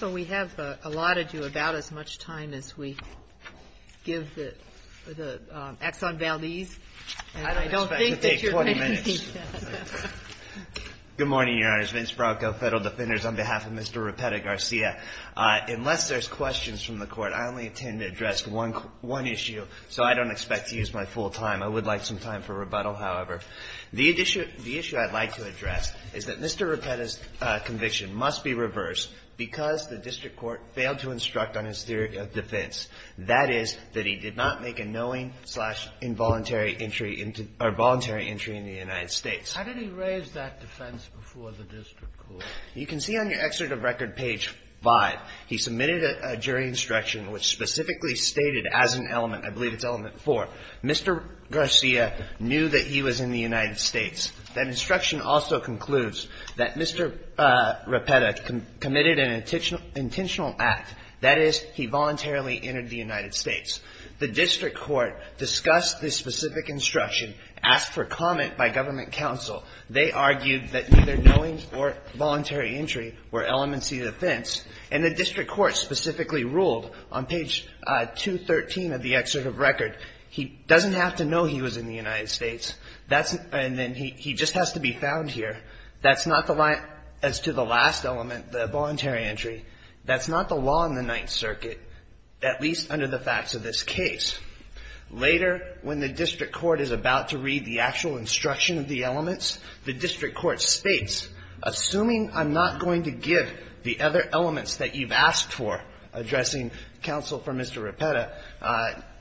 on behalf of Mr. Repata-Garcia. Unless there's questions from the Court, I only intend to address one issue, so I don't expect to use my full time. I would like some time for because the District Court failed to instruct on his theory of defense. That is, that he did not make a knowing-slash-involuntary entry into the United States. How did he raise that defense before the District Court? You can see on your excerpt of record, page 5, he submitted a jury instruction which specifically stated as an element, I believe it's element 4, Mr. Garcia knew that he was in the United States. That instruction also concludes that Mr. Repata-Garcia committed an intentional act, that is, he voluntarily entered the United States. The District Court discussed this specific instruction, asked for comment by government counsel. They argued that either knowing or voluntary entry were elements to the defense. And the District Court specifically ruled on page 213 of the excerpt of record, he doesn't have to know he was in the United States. And then he just has to be found here. That's not the line as to the last element, the voluntary entry. That's not the law in the Ninth Circuit, at least under the facts of this case. Later, when the District Court is about to read the actual instruction of the elements, the District Court states, assuming I'm not going to give the other elements that you've asked for, addressing counsel for Mr. Repata,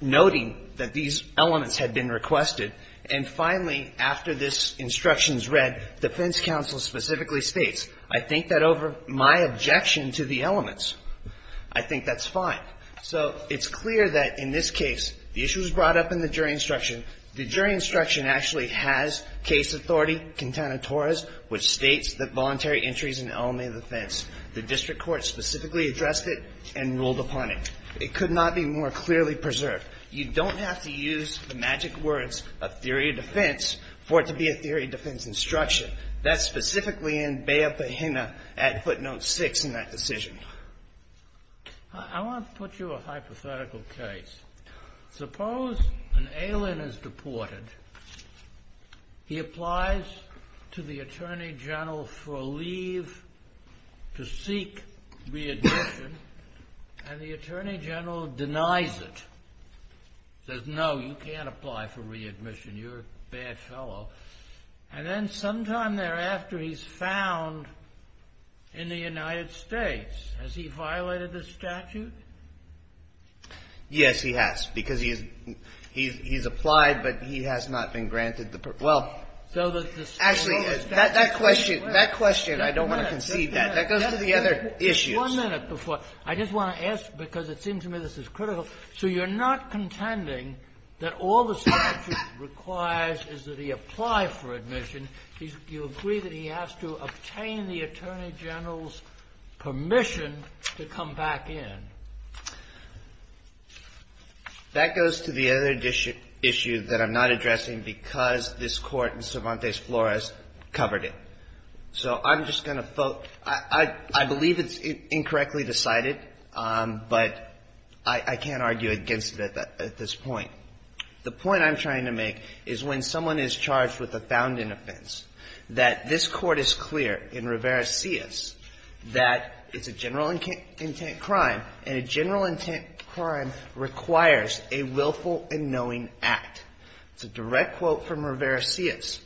noting that these elements had been requested. And finally, after this instruction is read, defense counsel specifically states, I think that over my objection to the elements, I think that's fine. So it's clear that in this case, the issue is brought up in the jury instruction. The jury instruction actually has case authority, Quintana Torres, which states that voluntary entry is an element of defense. The District Court specifically addressed it and ruled upon it. It could not be more clearly preserved. You don't have to use the magic words of theory of defense for it to be a theory of defense instruction. That's specifically in Bayah-Pahina at footnote six in that decision. I want to put you a hypothetical case. Suppose an alien is deported. He applies to the Attorney General for a leave to seek readmission, and the Attorney General denies it. Says, no, you can't apply for readmission. You're a bad fellow. And then sometime thereafter, he's found in the United States. Has he violated the statute? Yes, he has, because he's applied, but he has not been granted the permission. Well, actually, that question, that question, I don't want to concede that. That goes to the other issues. One minute before. I just want to ask, because it seems to me this is critical. So you're not contending that all the statute requires is that he apply for admission. You agree that he has to obtain the Attorney General's permission to come back in. That goes to the other issue that I'm not addressing because this Court in Cervantes Flores covered it. So I'm just going to vote. I believe it's incorrectly decided, but I can't argue against it at this point. The point I'm trying to make is when someone is charged with a founding offense, that this Court is clear in Rivera-Cias that it's a general intent crime, and a general intent crime requires a willful and knowing act. It's a direct quote from Rivera-Cias.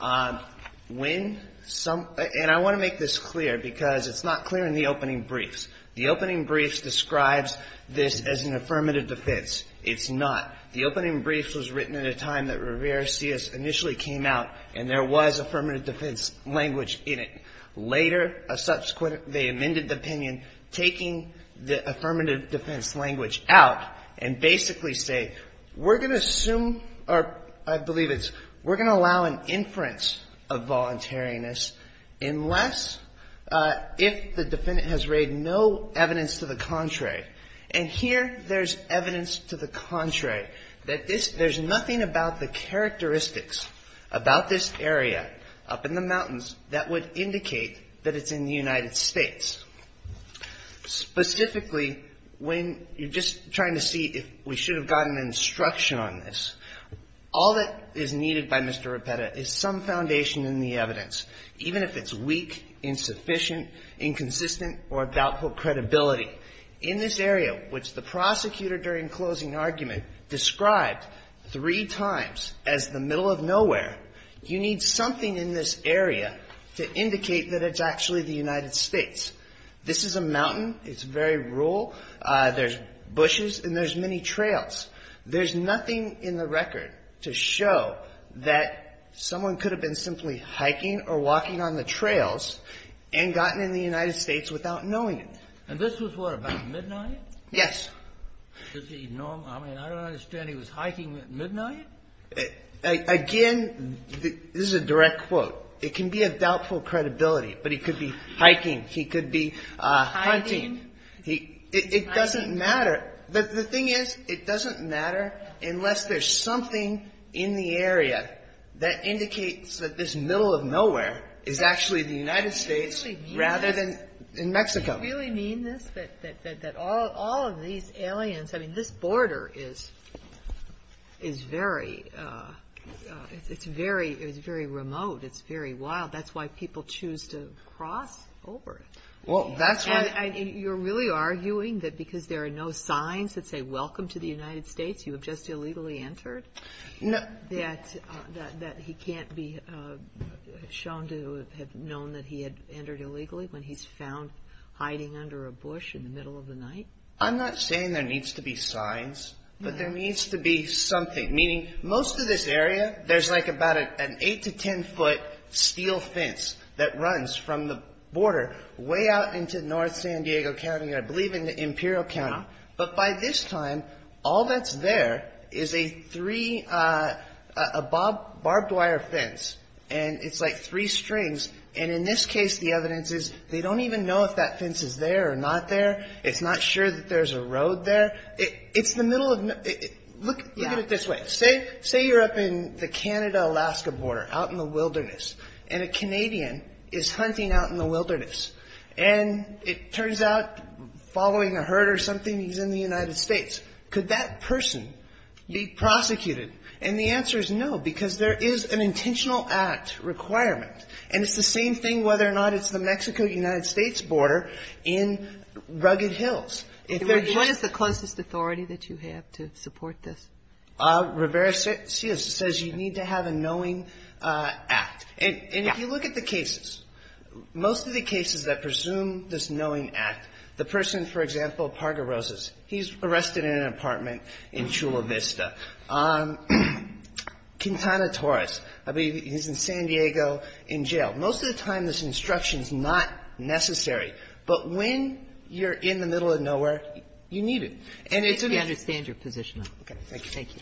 And I want to make this clear, because it's not clear in the opening briefs. The opening briefs describes this as an affirmative defense. It's not. The opening briefs was written at a time that Rivera-Cias initially came out, and there was affirmative defense language in it. Later, they amended the opinion, taking the affirmative defense language out, and basically say, we're going to assume, or I believe it's, we're going to allow an inference of voluntariness unless, if the defendant has raided, no evidence to the contrary. And here, there's evidence to the contrary, that there's nothing about the characteristics about this area, up in the mountains, that would indicate that it's in the United States. Specifically, when you're just trying to see if we should have gotten instruction on this, all that is needed by Mr. Ripera is some foundation in the evidence, even if it's weak, insufficient, inconsistent, or doubtful credibility. In this area, which the prosecutor, during closing argument, described three times as the middle of nowhere, you need something in this area to indicate that it's actually the United States. This is a mountain. It's very rural. There's bushes, and there's many trails. There's nothing in the record to show that someone could have been simply hiking or walking on the trails and gotten in the United States without knowing it. And this was what, about midnight? I mean, I don't understand. He was hiking at midnight? Again, this is a direct quote. It can be of doubtful credibility, but he could be hiking. He could be hunting. It doesn't matter. The thing is, it doesn't matter unless there's something in the area that indicates that this middle of nowhere is actually the United States rather than in Mexico. Do you really mean this, that all of these aliens – I mean, this border is very – it's very remote. It's very wild. That's why people choose to cross over. Well, that's why – And you're really arguing that because there are no signs that say, welcome to the United States, you have just illegally entered? That he can't be shown to have known that he had entered illegally when he's found hiding under a bush in the middle of the night? I'm not saying there needs to be signs, but there needs to be something. Meaning, most of this area, there's like about an 8 to 10-foot steel fence that runs from the border way out into north San Diego County, I believe into Imperial County. But by this time, all that's there is a barbed wire fence, and it's like three strings. And in this case, the evidence is they don't even know if that fence is there or not there. It's not sure that there's a road there. It's the middle of – look at it this way. Say you're up in the Canada-Alaska border, out in the wilderness, and a Canadian is hunting out in the wilderness. And it turns out, following a herd or something, he's in the United States. Could that person be prosecuted? And the answer is no, because there is an intentional act requirement. And it's the same thing whether or not it's the Mexico-United States border in Rugged Hills. If they're just – What is the closest authority that you have to support this? Rivera-Seals says you need to have a knowing act. And if you look at the cases, most of the cases, that presume this knowing act, the person, for example, Parga-Rosas, he's arrested in an apartment in Chula Vista. Quintana Torres, I believe he's in San Diego in jail. Most of the time, this instruction is not necessary. But when you're in the middle of nowhere, you need it. And it's an – We understand your position. Thank you. Thank you.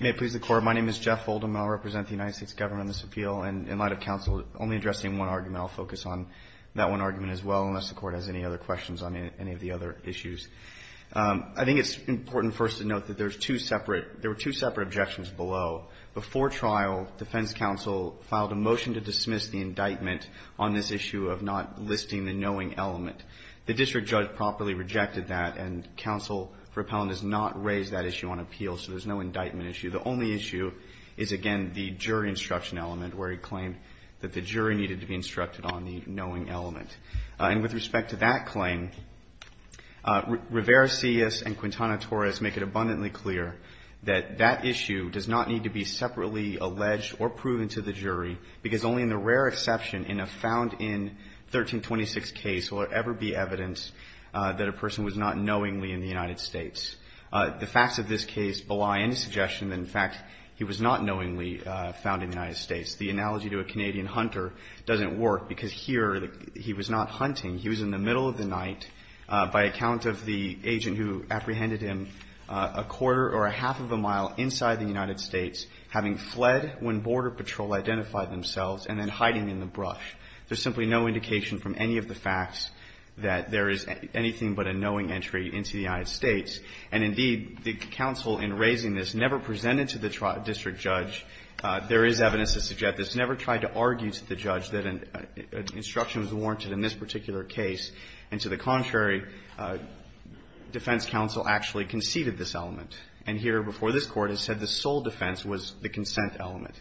May it please the Court. My name is Jeff Oldham. I represent the United States Government on this appeal. And in light of counsel only addressing one argument, I'll focus on that one argument as well, unless the Court has any other questions on any of the other issues. I think it's important first to note that there's two separate – there were two separate objections below. Before trial, defense counsel filed a motion to dismiss the indictment on this issue of not listing the knowing element. The district judge properly rejected that, and counsel for appellant has not raised that issue on appeal, so there's no indictment issue. The only issue is, again, the jury instruction element, where he claimed that the jury needed to be instructed on the knowing element. And with respect to that claim, Rivera-Cias and Quintana Torres make it abundantly clear that that issue does not need to be separately alleged or proven to the jury, because only in the rare exception in a found-in 1326 case will there ever be evidence that a person was not knowingly in the United States. The facts of this case belie any suggestion that, in fact, he was not knowingly found in the United States. The analogy to a Canadian hunter doesn't work, because here he was not hunting. He was in the middle of the night by account of the agent who apprehended him a quarter or a half of a mile inside the United States, having fled when Border Patrol identified themselves, and then hiding in the brush. There's simply no indication from any of the facts that there is anything but a knowing entry into the United States. And, indeed, the counsel in raising this never presented to the district judge. There is evidence to suggest this. I've never tried to argue to the judge that an instruction was warranted in this particular case, and to the contrary, defense counsel actually conceded this element. And here, before this Court, it said the sole defense was the consent element.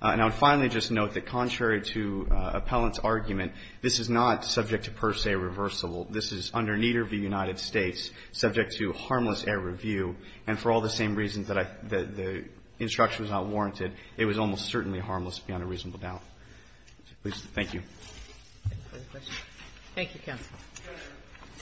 And I would finally just note that, contrary to Appellant's argument, this is not subject to per se reversible. This is under neither of the United States subject to harmless air review. And for all the same reasons that the instruction was not warranted, it was almost certainly harmless beyond a reasonable doubt. Please. Thank you. Thank you, counsel.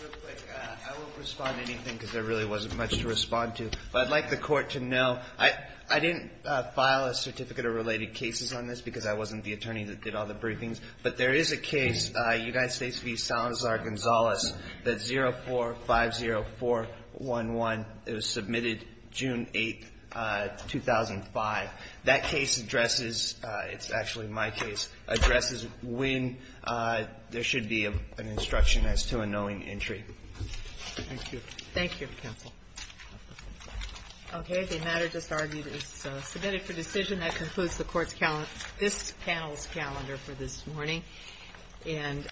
I will respond to anything because there really wasn't much to respond to. But I'd like the Court to know, I didn't file a certificate of related cases on this because I wasn't the attorney that did all the briefings, but there is a case, United States v. Salazar-Gonzalez, that's 0450411. It was submitted June 8, 2005. That case addresses, it's actually my case, addresses when there should be an instruction as to a knowing entry. Thank you. Thank you, counsel. Okay. The matter just argued is submitted for decision. That concludes the Court's calendar, this panel's calendar for this morning. And I thank you.